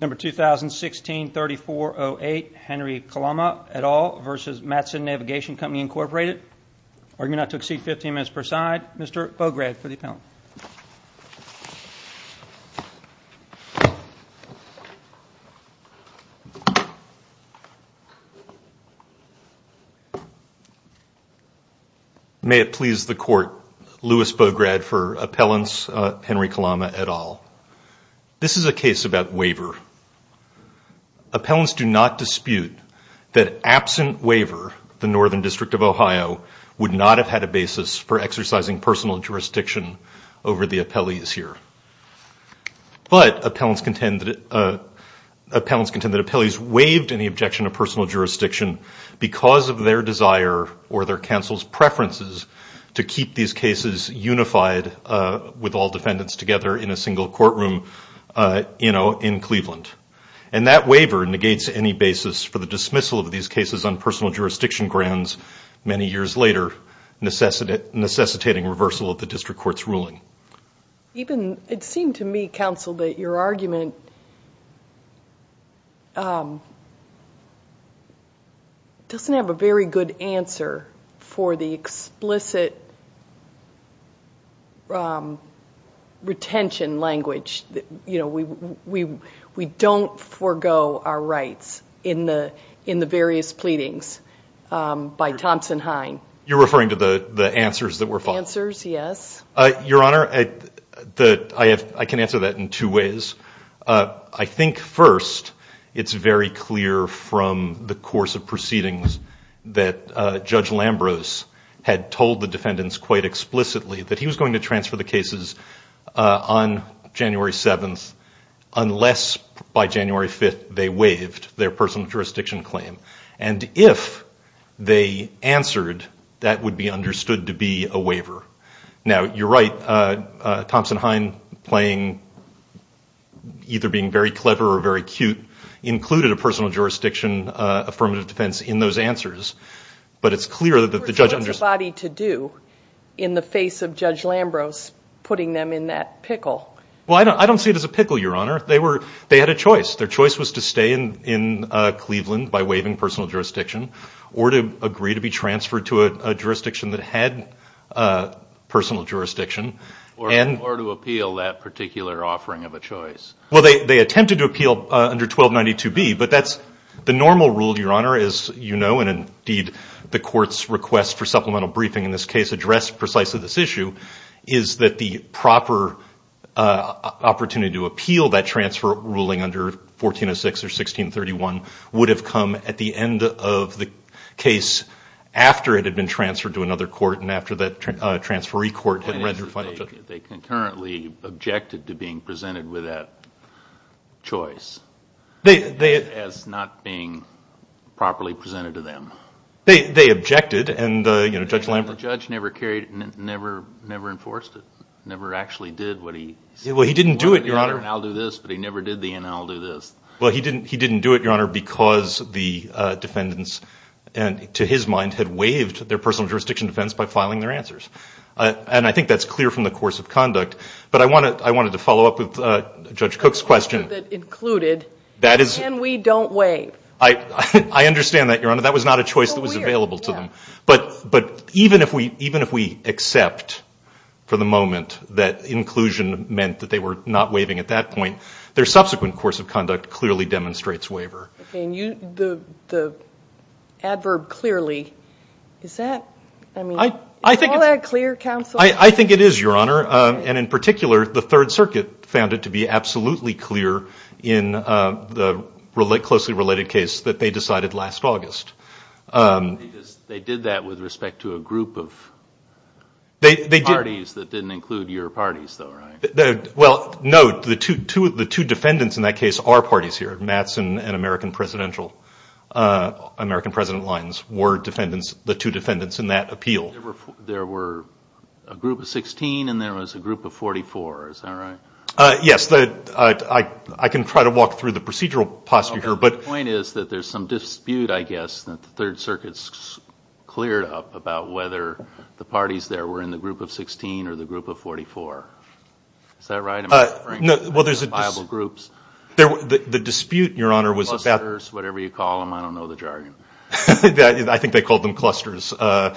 Number 2016-3408 Henry Kalama et al. versus Matson Navigation Company Incorporated. Arguing not to exceed 15 minutes per side. Mr. Bograd for the appellant. May it please the court. Louis Bograd for appellants. Henry Kalama et al. This is a case about waiver. Appellants do not dispute that absent waiver, the Northern District of Ohio would not have had a basis for exercising personal jurisdiction over the appellees here. But appellants contend that appellees waived any objection to personal jurisdiction because of their desire or their counsel's preferences to keep these cases unified with all defendants together in a single courtroom in Cleveland. And that waiver negates any basis for the dismissal of these cases on personal jurisdiction grounds many years later, necessitating reversal of the district court's ruling. It seemed to me, counsel, that your argument doesn't have a very good answer for the explicit retention language. We don't forego our rights in the various pleadings by Thompson Hine. You're referring to the answers that were filed? Your Honor, I can answer that in two ways. I think first, it's very clear from the course of proceedings that Judge Lambros had told the defendants quite explicitly that he was going to transfer the cases on January 7th unless by January 5th they waived their personal jurisdiction claim. And if they answered, that would be understood to be a waiver. Now, you're right, Thompson Hine playing, either being very clever or very cute, included a personal jurisdiction affirmative defense in those answers. But it's clear that the judge understood. So what's the body to do in the face of Judge Lambros putting them in that pickle? Well, I don't see it as a pickle, Your Honor. They had a choice. Their choice was to stay in Cleveland by waiving personal jurisdiction or to agree to be transferred to a jurisdiction that had personal jurisdiction. Or to appeal that particular offering of a choice. Well, they attempted to appeal under 1292B, but that's the normal rule, Your Honor, as you know, and indeed the court's request for supplemental briefing in this case addressed precisely this issue, is that the proper opportunity to appeal that transfer ruling under 1406 or 1631 would have come at the end of the case after it had been transferred to another court and after that transferee court had read their final judgment. They concurrently objected to being presented with that choice as not being properly presented to them. They objected and Judge Lambros… The judge never enforced it, never actually did what he… Well, he didn't do it, Your Honor. He said, I'll do this, but he never did the and I'll do this. Well, he didn't do it, Your Honor, because the defendants, to his mind, had waived their personal jurisdiction defense by filing their answers. And I think that's clear from the course of conduct. But I wanted to follow up with Judge Cook's question. Included and we don't waive. I understand that, Your Honor. That was not a choice that was available to them. But even if we accept for the moment that inclusion meant that they were not waiving at that point, their subsequent course of conduct clearly demonstrates waiver. The adverb clearly, is that… I think it is, Your Honor. And in particular, the Third Circuit found it to be absolutely clear in the closely related case that they decided last August. They did that with respect to a group of parties that didn't include your parties, though, right? Well, no. The two defendants in that case are parties here. Mattson and American Presidential, American President Lyons were defendants, the two defendants in that appeal. There were a group of 16 and there was a group of 44. Is that right? Yes. I can try to walk through the procedural posture here. The point is that there's some dispute, I guess, that the Third Circuit cleared up about whether the parties there were in the group of 16 or the group of 44. Is that right? Well, there's a… Identifiable groups. The dispute, Your Honor, was about… Clusters, whatever you call them. I don't know the jargon. I think they called them clusters. But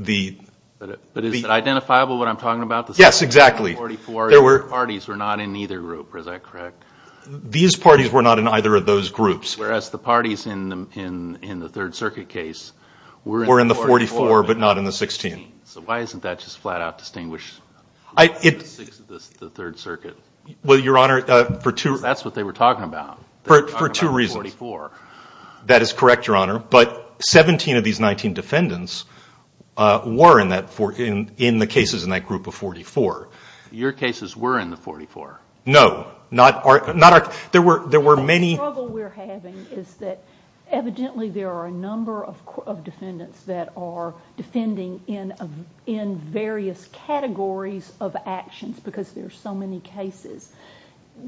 is it identifiable what I'm talking about? Yes, exactly. The parties were not in either group. Is that correct? These parties were not in either of those groups. Whereas the parties in the Third Circuit case were in the 44 but not in the 16. So why isn't that just flat-out distinguished? The Third Circuit. Well, Your Honor, for two… That's what they were talking about. For two reasons. They were talking about 44. That is correct, Your Honor. But 17 of these 19 defendants were in the cases in that group of 44. Your cases were in the 44. No. Not our… There were many… The struggle we're having is that evidently there are a number of defendants that are defending in various categories of actions because there are so many cases.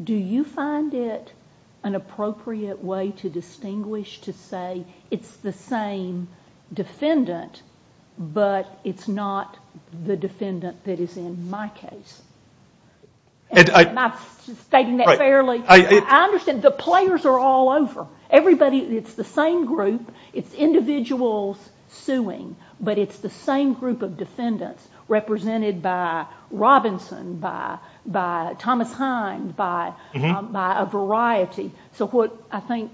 Do you find it an appropriate way to distinguish to say it's the same defendant but it's not the defendant that is in my case? Am I stating that fairly? I understand the players are all over. It's the same group. It's individuals suing, but it's the same group of defendants represented by Robinson, by Thomas Hind, by a variety. So what I think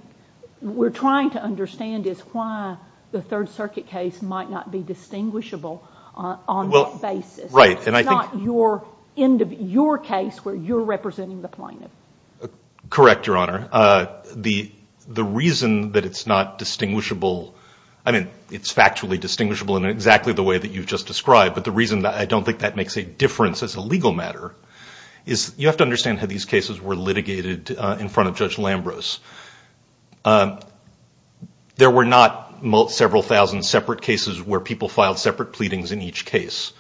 we're trying to understand is why the Third Circuit case might not be distinguishable on that basis. It's not your case where you're representing the plaintiff. Correct, Your Honor. The reason that it's not distinguishable, I mean it's factually distinguishable in exactly the way that you've just described, but the reason I don't think that makes a difference as a legal matter is you have to understand how these cases were litigated in front of Judge Lambros. There were not several thousand separate cases where people filed separate pleadings in each case.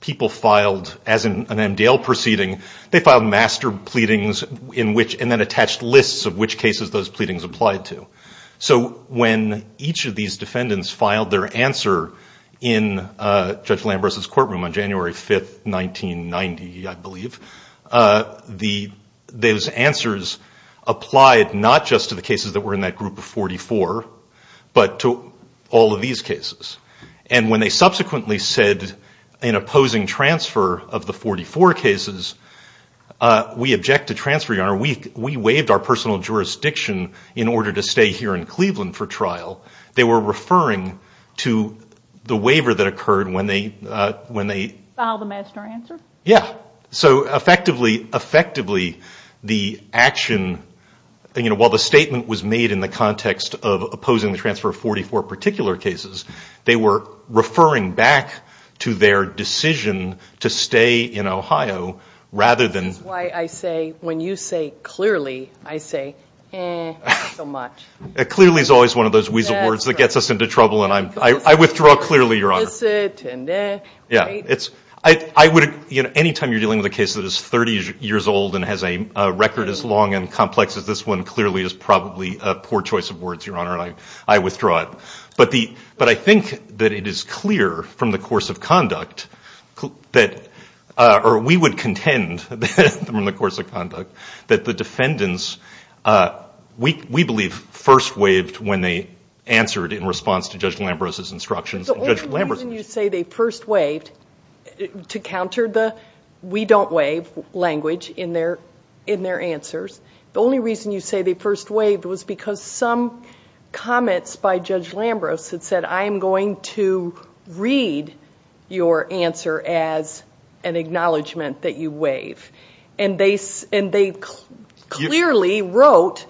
People filed, as in an MDL proceeding, they filed master pleadings and then attached lists of which cases those pleadings applied to. So when each of these defendants filed their answer in Judge Lambros' courtroom on January 5, 1990, I believe, those answers applied not just to the cases that were in that group of 44, but to all of these cases. And when they subsequently said, in opposing transfer of the 44 cases, we object to transfer, Your Honor. We waived our personal jurisdiction in order to stay here in Cleveland for trial. They were referring to the waiver that occurred when they Filed the master answer? Yeah. So effectively, the action, while the statement was made in the context of opposing the transfer of 44 particular cases, they were referring back to their decision to stay in Ohio rather than That's why I say, when you say clearly, I say, eh, not so much. Clearly is always one of those weasel words that gets us into trouble. I withdraw clearly, Your Honor. Yeah. Anytime you're dealing with a case that is 30 years old and has a record as long And complex as this one clearly is probably a poor choice of words, Your Honor, and I withdraw it. But I think that it is clear from the course of conduct that we would contend from the course of conduct that the defendants, we believe, first waived when they answered in response to Judge Lambros' instructions. The only reason you say they first waived to counter the we don't waive language in their answers, the only reason you say they first waived was because some comments by Judge Lambros that said, I am going to read your answer as an acknowledgement that you waive. And they clearly wrote,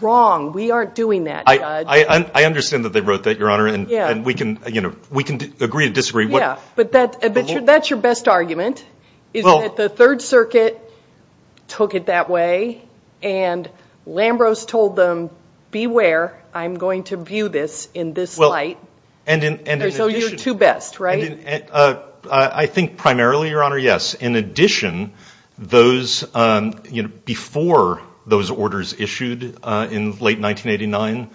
wrong, we aren't doing that, Judge. I understand that they wrote that, Your Honor, and we can agree to disagree. Yeah, but that's your best argument. Is that the Third Circuit took it that way and Lambros told them, beware, I'm going to view this in this light. So you're two best, right? I think primarily, Your Honor, yes. In addition, before those orders issued in late 1989,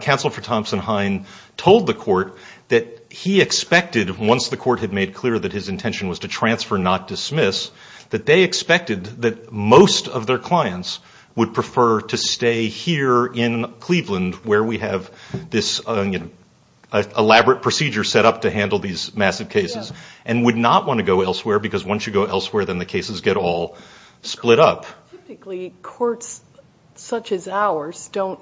Counsel for Thompson Hine told the court that he expected, once the court had made clear that his intention was to transfer, not dismiss, that they expected that most of their clients would prefer to stay here in Cleveland where we have this elaborate procedure set up to handle these massive cases and would not want to go elsewhere because once you go elsewhere, then the cases get all split up. Typically, courts such as ours don't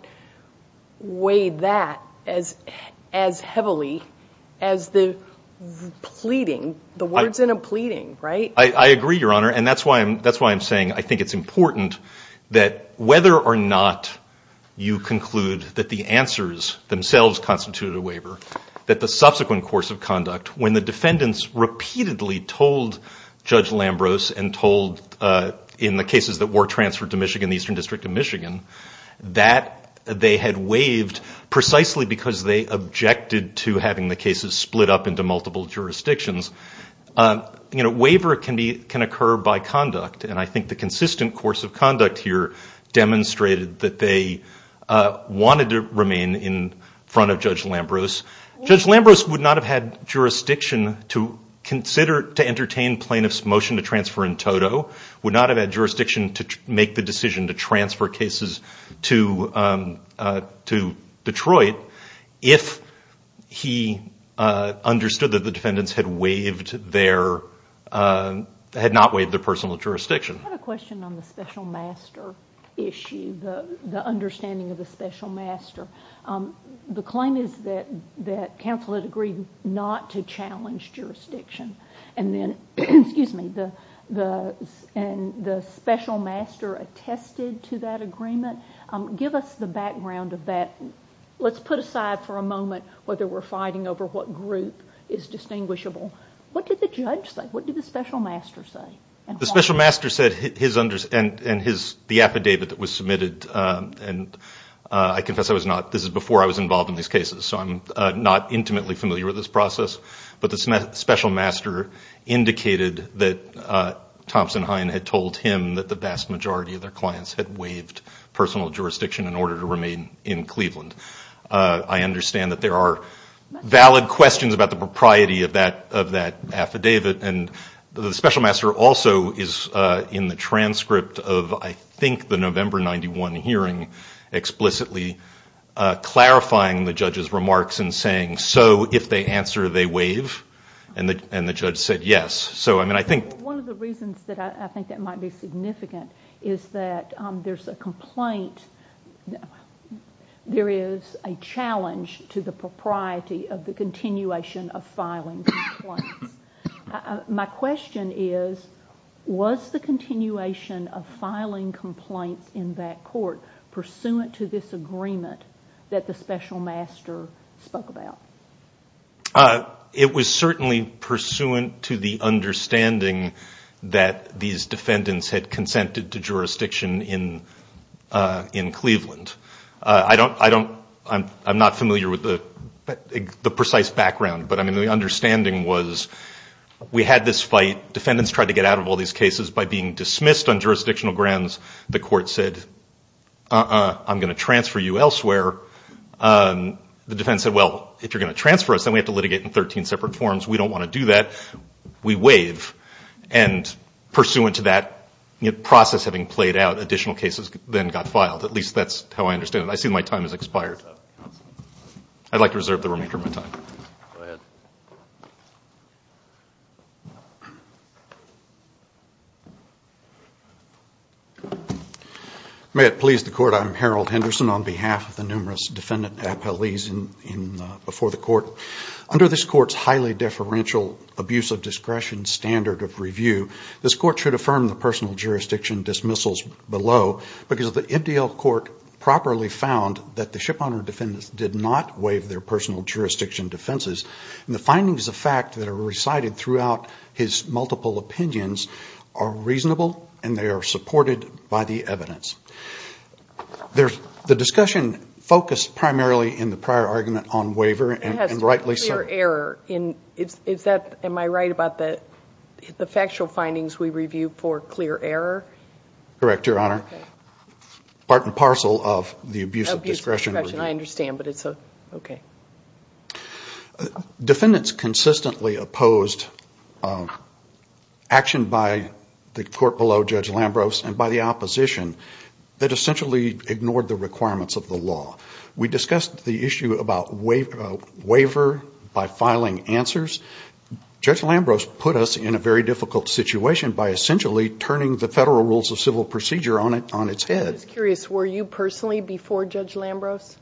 weigh that as heavily as the pleading, the words in a pleading, right? I agree, Your Honor, and that's why I'm saying I think it's important that whether or not you conclude that the answers themselves constitute a waiver, that the subsequent course of conduct, when the defendants repeatedly told Judge Lambros and told in the cases that were transferred to Michigan, the Eastern District of Michigan, that they had waived precisely because they objected to having the cases split up into multiple jurisdictions. Waiver can occur by conduct, and I think the consistent course of conduct here demonstrated that they wanted to remain in front of Judge Lambros. Judge Lambros would not have had jurisdiction to entertain plaintiff's motion to transfer in toto, would not have had jurisdiction to make the decision to transfer cases to Detroit if he understood that the defendants had not waived their personal jurisdiction. I have a question on the special master issue, the understanding of the special master. The claim is that counsel had agreed not to challenge jurisdiction, and the special master attested to that agreement. Give us the background of that. Let's put aside for a moment whether we're fighting over what group is distinguishable. What did the judge say? What did the special master say? The special master said, and the affidavit that was submitted, and I confess this is before I was involved in these cases, so I'm not intimately familiar with this process, but the special master indicated that Thompson Hine had told him that the vast majority of their clients had waived personal jurisdiction in order to remain in Cleveland. I understand that there are valid questions about the propriety of that affidavit, and the special master also is in the transcript of, I think, the November 91 hearing, explicitly clarifying the judge's remarks and saying, so if they answer, they waive? And the judge said yes. One of the reasons that I think that might be significant is that there's a complaint. There is a challenge to the propriety of the continuation of filing complaints. My question is, was the continuation of filing complaints in that court, pursuant to this agreement that the special master spoke about? It was certainly pursuant to the understanding that these defendants had consented to jurisdiction in Cleveland. I'm not familiar with the precise background, but the understanding was we had this fight. Defendants tried to get out of all these cases by being dismissed on jurisdictional grounds. The court said, uh-uh, I'm going to transfer you elsewhere. The defense said, well, if you're going to transfer us, then we have to litigate in 13 separate forms. We don't want to do that. We waive, and pursuant to that process having played out, additional cases then got filed. At least that's how I understand it. I see my time has expired. I'd like to reserve the remainder of my time. May it please the court, I'm Harold Henderson, on behalf of the numerous defendant appellees before the court. Under this court's highly deferential abuse of discretion standard of review, this court should affirm the personal jurisdiction dismissals below, because the MDL court properly found that the shipowner defendants did not waive their personal jurisdiction defenses, and the findings of fact that are recited throughout his multiple opinions are reasonable, and they are supported by the evidence. The discussion focused primarily in the prior argument on waiver, and rightly so. Clear error. Am I right about the factual findings we reviewed for clear error? Correct, Your Honor. Part and parcel of the abuse of discretion. I understand, but it's okay. Defendants consistently opposed action by the court below Judge Lambros, and by the opposition that essentially ignored the requirements of the law. We discussed the issue about waiver by filing answers. Judge Lambros put us in a very difficult situation by essentially turning the Federal Rules of Civil Procedure on its head. I'm just curious, were you personally before Judge Lambros?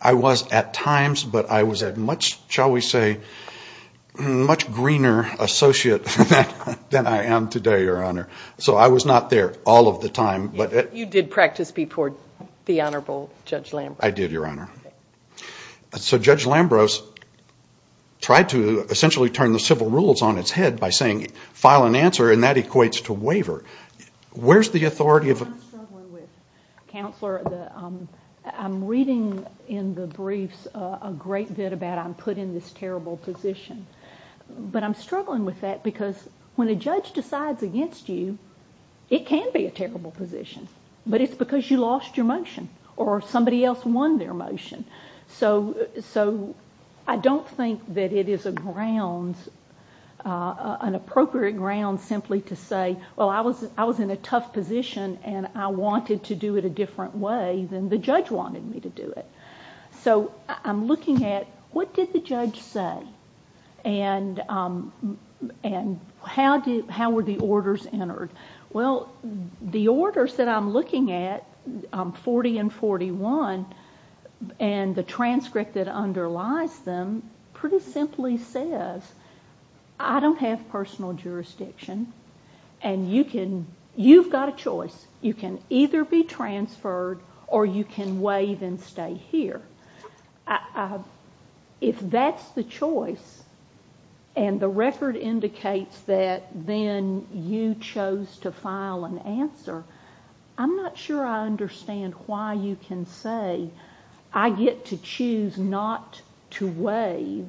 I was at times, but I was a much, shall we say, much greener associate than I am today, Your Honor. So I was not there all of the time. You did practice before the Honorable Judge Lambros. I did, Your Honor. So Judge Lambros tried to essentially turn the civil rules on its head by saying file an answer, and that equates to waiver. Where's the authority of... I'm struggling with, Counselor. I'm reading in the briefs a great bit about I'm put in this terrible position, but I'm struggling with that because when a judge decides against you, it can be a terrible position, but it's because you lost your motion or somebody else won their motion. So I don't think that it is a grounds, an appropriate grounds simply to say, well, I was in a tough position and I wanted to do it a different way than the judge wanted me to do it. So I'm looking at what did the judge say and how were the orders entered? Well, the orders that I'm looking at, 40 and 41, and the transcript that underlies them pretty simply says I don't have personal jurisdiction and you've got a choice. You can either be transferred or you can waive and stay here. If that's the choice and the record indicates that then you chose to file an answer, I'm not sure I understand why you can say I get to choose not to waive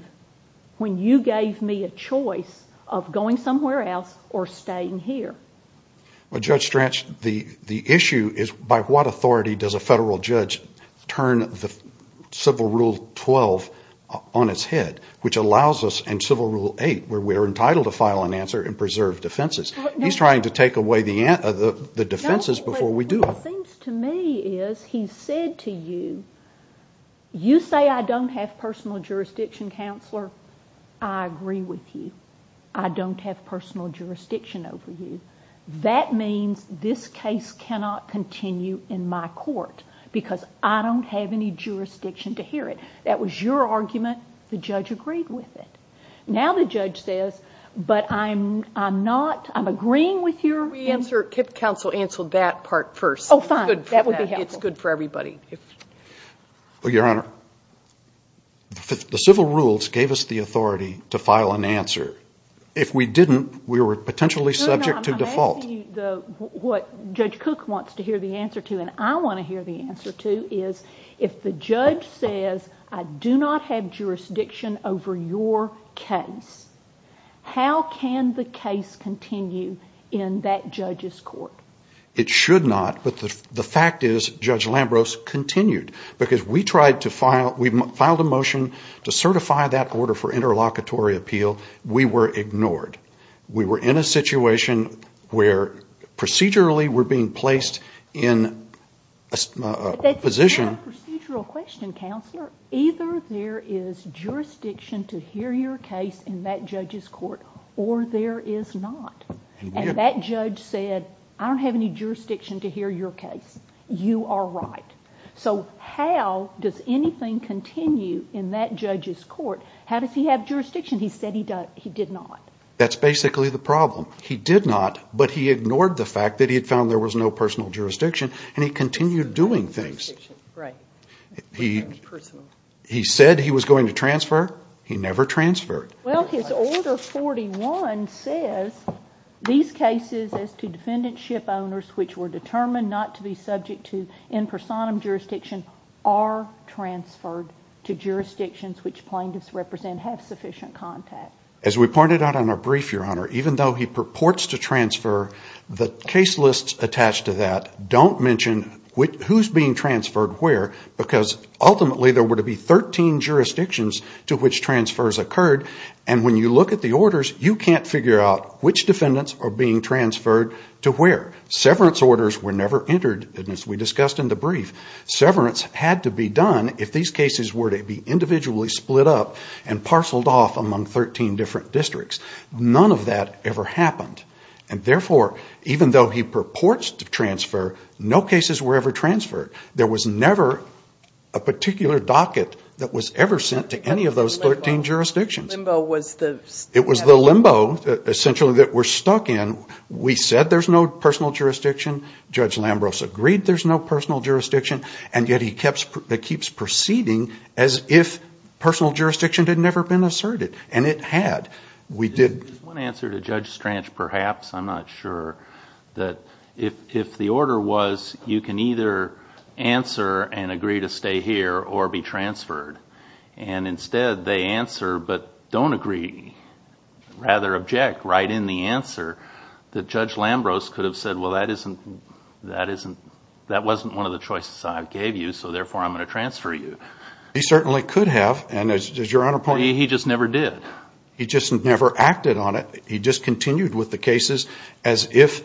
when you gave me a choice of going somewhere else or staying here. Well, Judge Strach, the issue is by what authority does a federal judge turn Civil Rule 12 on its head which allows us in Civil Rule 8 where we're entitled to file an answer and preserve defenses. He's trying to take away the defenses before we do it. No, but what it seems to me is he's said to you, you say I don't have personal jurisdiction, counselor, I agree with you. I don't have personal jurisdiction over you. That means this case cannot continue in my court because I don't have any jurisdiction to hear it. That was your argument. The judge agreed with it. Now the judge says, but I'm not, I'm agreeing with your answer. Counsel, answer that part first. It's good for everybody. Your Honor, the Civil Rules gave us the authority to file an answer. If we didn't, we were potentially subject to default. I'm asking you what Judge Cook wants to hear the answer to and I want to hear the answer to is if the judge says I do not have jurisdiction over your case, how can the case continue in that judge's court? It should not, but the fact is Judge Lambros continued because we tried to file, we filed a motion to certify that order for interlocutory appeal. We were ignored. We were in a situation where procedurally we're being placed in a position. That's not a procedural question, counselor. Either there is jurisdiction to hear your case in that judge's court or there is not. And that judge said I don't have any jurisdiction to hear your case. You are right. So how does anything continue in that judge's court? How does he have jurisdiction? He said he did not. That's basically the problem. He did not, but he ignored the fact that he found there was no personal jurisdiction and he continued doing things. He said he was going to transfer. He never transferred. Well, his order 41 says these cases as to defendantship owners which were determined not to be subject to in personam jurisdiction are transferred to jurisdictions which plaintiffs represent have sufficient contact. As we pointed out on our brief, Your Honor, even though he purports to transfer the case list attached to that don't mention who's being transferred where because ultimately there were to be 13 jurisdictions to which transfers occurred and when you look at the orders you can't figure out which defendants are being transferred to where. Severance orders were never entered as we discussed in the brief. Severance had to be done if these cases were to be individually split up and parceled off among 13 different districts. None of that ever happened. And therefore even though he purports to transfer no cases were ever transferred. There was never a particular docket that was ever sent to any of those 13 jurisdictions. It was the limbo essentially that we're stuck in. We said there's no personal jurisdiction. Judge Lambros agreed there's no personal jurisdiction and yet he keeps proceeding as if personal jurisdiction had never been asserted. And it had. One answer to Judge Stranch perhaps, I'm not sure, that if the order was you can either answer and agree to stay here or be transferred and instead they answer but don't agree rather object right in the answer that Judge Lambros could have said well that isn't that wasn't one of the choices I gave you so therefore I'm going to transfer you. He certainly could have. He just never did. He just never acted on it. He just continued with the cases as if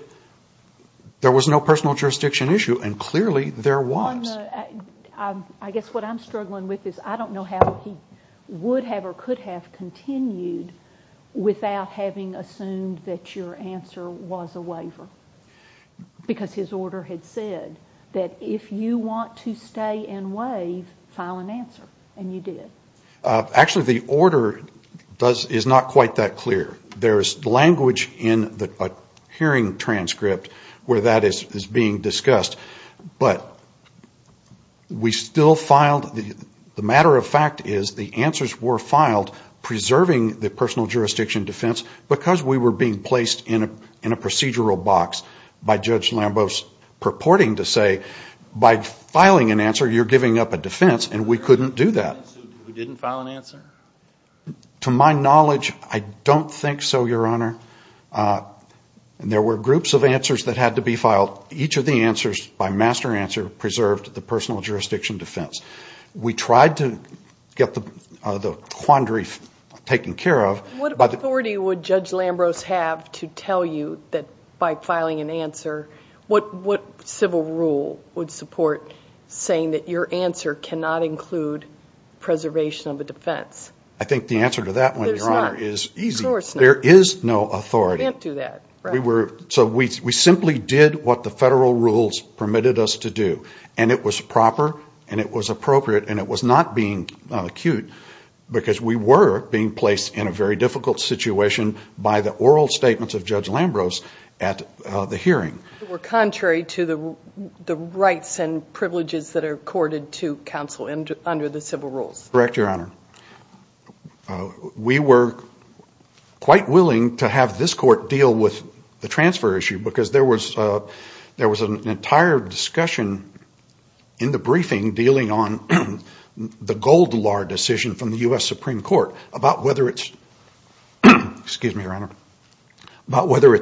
there was no personal jurisdiction issue and clearly there was. I guess what I'm struggling with is I don't know how he would have or could have continued without having assumed that your answer was a waiver because his order had said that if you want to stay and waive file an answer and you did. Actually the order is not quite that clear. There's language in the hearing transcript where that is being discussed but we still filed the matter of fact is the answers were filed preserving the personal jurisdiction defense because we were being placed in a procedural box by Judge Lambros purporting to say by filing an answer you're giving up a defense and we couldn't do that. To my knowledge I don't think so your honor. There were groups of answers that had to be filed. Each of the answers by master answer preserved the personal jurisdiction defense. We tried to get the quandary taken care of. What authority would Judge Lambros have to tell you that by filing an answer what civil rule would support saying that your answer cannot include preservation of a defense? I think the answer to that one your honor is easy. There is no authority. We simply did what the federal rules permitted us to do and it was proper and it was appropriate and it was not being acute because we were being placed in a very difficult situation by the oral statements of Judge Lambros at the hearing. They were contrary to the rights and privileges that are accorded to counsel under the civil rules. Correct your honor. We were quite willing to have this court deal with the transfer issue because there was an entire discussion in the briefing dealing on the Goldilar decision from the U.S. Supreme Court about whether it's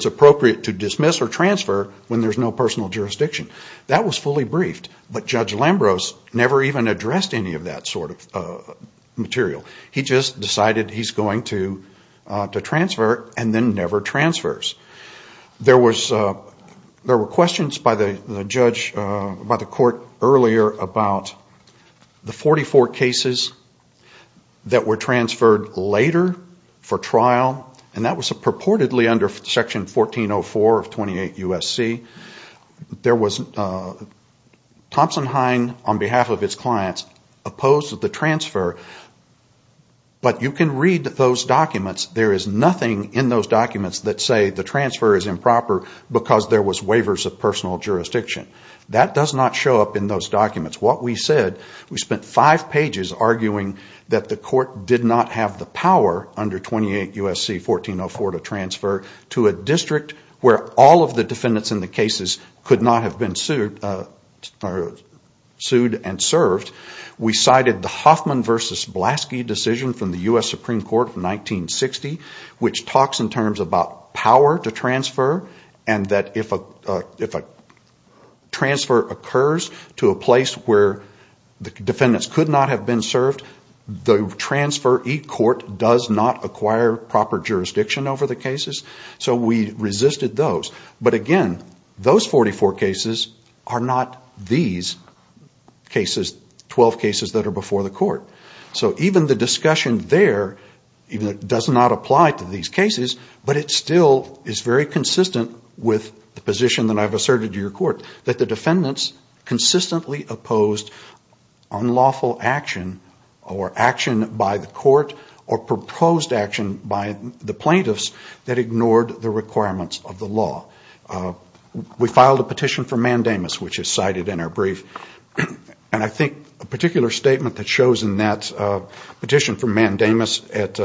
appropriate to dismiss or transfer when there is no personal jurisdiction. That was fully briefed but Judge Lambros never even addressed any of that sort of material. He just decided he's going to transfer and then never transfers. There were questions by the judge by the court earlier about the 44 cases that were transferred later for trial and that was purportedly under section 1404 of 28 U.S.C. Thompson Hine on behalf of his clients opposed the transfer but you can read those documents there is nothing in those documents that say the transfer is improper because there was waivers of personal jurisdiction. That does not show up in those documents. What we said, we spent five pages arguing that the court did not have the power under 28 U.S.C. 1404 to transfer to a district where all of the defendants in the cases could not have been sued and served. We cited the Hoffman v. Blaski decision from the U.S. Supreme Court in 1960 which talks in terms about power to transfer and that if a transfer occurs to a place where the defendants could not have been served the transfer e-court does not acquire proper jurisdiction over the cases so we resisted those. But again, those 44 cases are not these 12 cases that are before the court. So even the discussion there does not apply to these cases but it still is very consistent with the position that I have asserted to your court unlawful action or action by the court or proposed action by the plaintiffs that ignored the requirements of the law. We filed a petition for mandamus which is cited in our brief and I think a particular statement that shows in that petition for mandamus at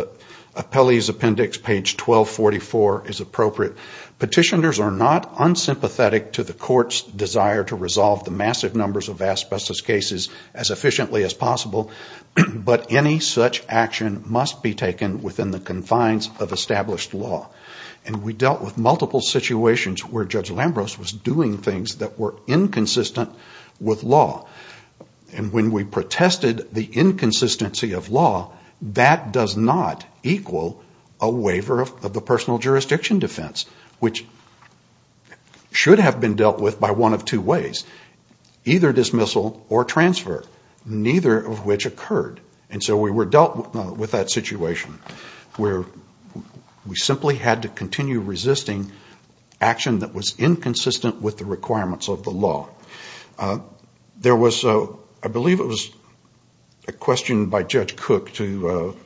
Appellee's Appendix page 1244 is appropriate. Petitioners are not unsympathetic to the court's desire to resolve the massive numbers of asbestos cases as efficiently as possible but any such action must be taken within the confines of established law. And we dealt with multiple situations where Judge Lambros was doing things that were inconsistent with law and when we protested the inconsistency of law that does not equal a waiver of the personal jurisdiction defense which should have been dealt with by one of two ways either dismissal or transfer neither of which occurred and so we were dealt with that situation where we simply had to continue resisting action that was inconsistent with the requirements of the law. There was, I believe it was a question by Judge Cook to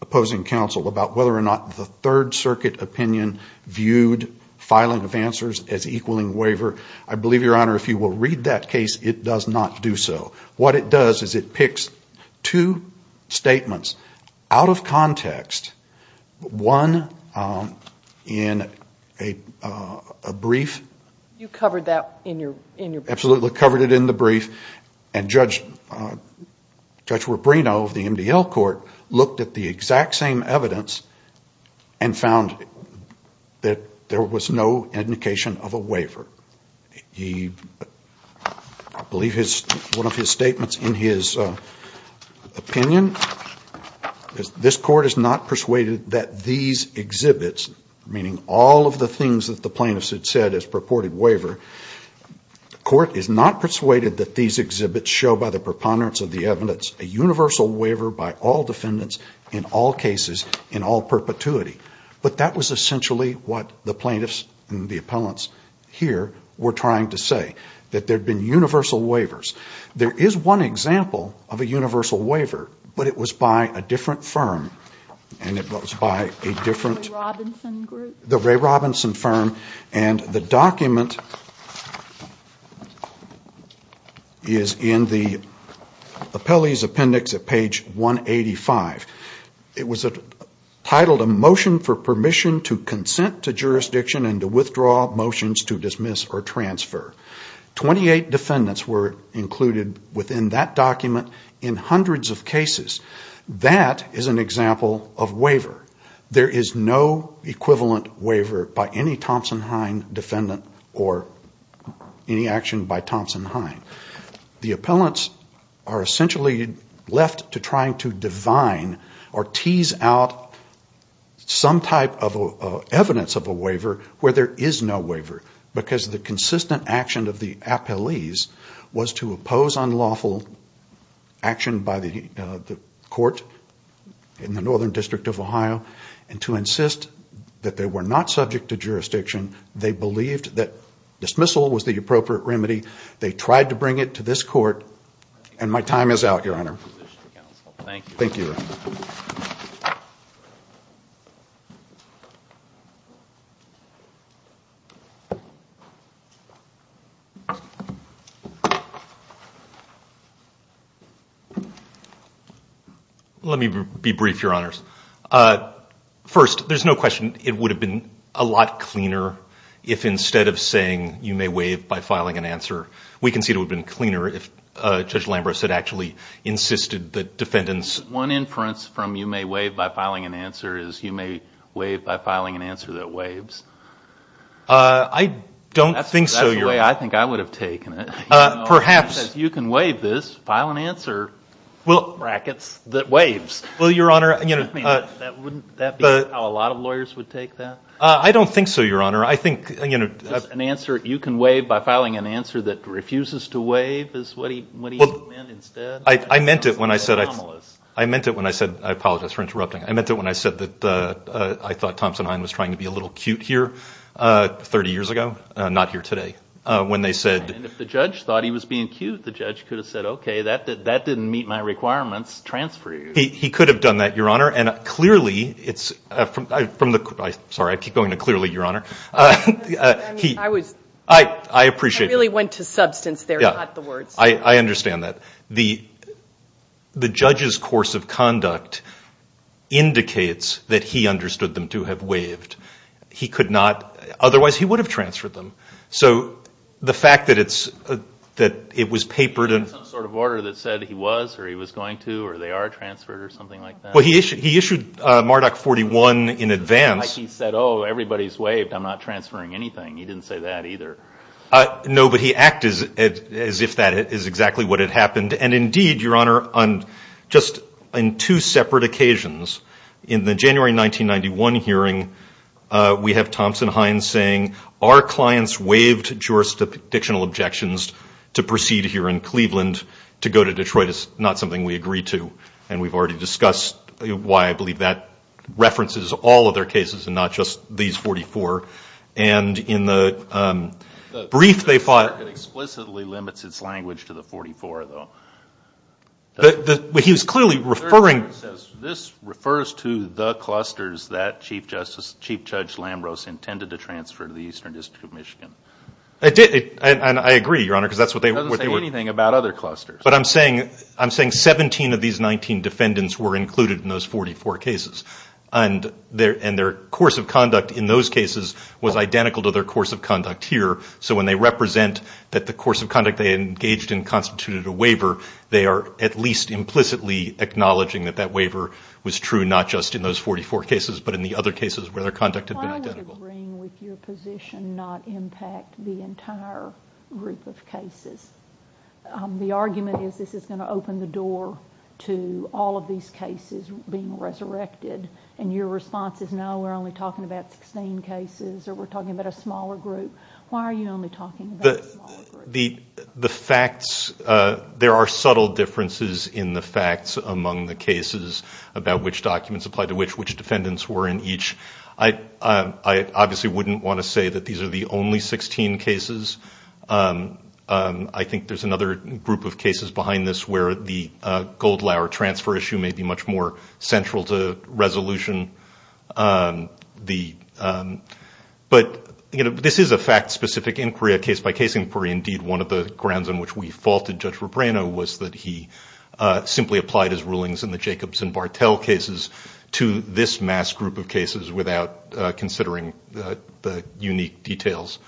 opposing counsel about whether or not the Third Circuit opinion viewed filing of answers as equaling waiver I believe, Your Honor, if you will read that case it does not do so. What it does is it picks two statements out of context one in a brief You covered that in your brief? Absolutely, covered it in the brief and Judge Rubino of the MDL Court looked at the exact same evidence and found that there was no indication of a waiver I believe one of his statements in his opinion this court is not persuaded that these exhibits meaning all of the things that the plaintiff said as purported waiver the court is not persuaded that these exhibits show by the preponderance of the evidence a universal waiver by all defendants in all cases, in all perpetuity but that was essentially what the plaintiffs and the appellants here were trying to say that there had been universal waivers there is one example of a universal waiver but it was by a different firm the Ray Robinson firm and the document is in the appellee's appendix at page 185 it was titled A Motion for Permission to Consent to Jurisdiction and to Withdraw Motions to Dismiss or Transfer 28 defendants were included within that document in hundreds of cases that is an example of waiver there is no equivalent waiver by any Thompson-Hein defendant or any action by Thompson-Hein the appellants are essentially left to try to divine or tease out some type of evidence of a waiver where there is no waiver because the consistent action of the appellees was to oppose unlawful action by the court in the Northern District of Ohio and to insist that they were not subject to jurisdiction they believed that dismissal was the appropriate remedy they tried to bring it to this court and my time is out, Your Honor. Thank you. Let me be brief, Your Honors. First, there is no question it would have been a lot cleaner if instead of saying you may waive by filing an answer we can see it would have been cleaner and that they were not subject to jurisdiction so the inference from you may waive by filing an answer is you may waive by filing an answer that waives? I don't think so, Your Honor. That's the way I think I would have taken it. You can waive this, file an answer brackets, that waives. Wouldn't that be how a lot of lawyers would take that? I don't think so, Your Honor. You can waive by filing an answer that refuses to waive I meant it when I said I apologize for interrupting I meant it when I said I thought Thompson Hine was trying to be a little cute here 30 years ago, not here today. And if the judge thought he was being cute the judge could have said okay, that didn't meet my requirements transfer you. He could have done that, Your Honor. I keep going to clearly, Your Honor. I really went to substance there, not the words. I understand that. The judge's course of conduct indicates that he understood them to have waived. Otherwise he would have transferred them. So the fact that it was papered He issued some sort of order that said he was or he was going to or they are transferred or something like that? He issued MARDOC 41 in advance Like he said, oh, everybody's waived, I'm not transferring anything. He didn't say that either. No, but he acted as if that is exactly what had happened. And indeed, Your Honor, on just two separate occasions in the January 1991 hearing we have Thompson Hine saying our clients waived jurisdictional objections to proceed here in Cleveland to go to Detroit is not something we agreed to. And we've already discussed why I believe that references all of their cases and not just these 44. And in the brief they fought It explicitly limits its language to the 44, though. But he was clearly referring This refers to the clusters that Chief Judge Lambros intended to transfer to the Eastern District of Michigan. And I agree, Your Honor, because that's what they were But I'm saying 17 of these 19 defendants were included in those 44 cases. And their course of conduct in those cases was identical to their course of conduct here. So when they represent that the course of conduct they engaged in constituted a waiver, they are at least implicitly acknowledging that that waiver was true not just in those 44 cases but in the other cases where their conduct had been identical. Why would agreeing with your position not impact the entire group of cases? The argument is this is going to open the door to all of these cases being resurrected. And your response is no, we're only talking about 16 cases or we're talking about a smaller group. Why are you only talking about a smaller group? There are subtle differences in the facts among the cases about which documents applied to which which defendants were in each. I obviously wouldn't want to say that these are the only 16 cases. I think there's another group of cases behind this where the Goldlauer transfer issue may be much more central to resolution. But this is a fact-specific inquiry, a case-by-case inquiry. Indeed, one of the grounds on which we faulted Judge Rubrano was that he simply applied his rulings in the Jacobs and Bartel cases to this mass group of cases without considering the unique details.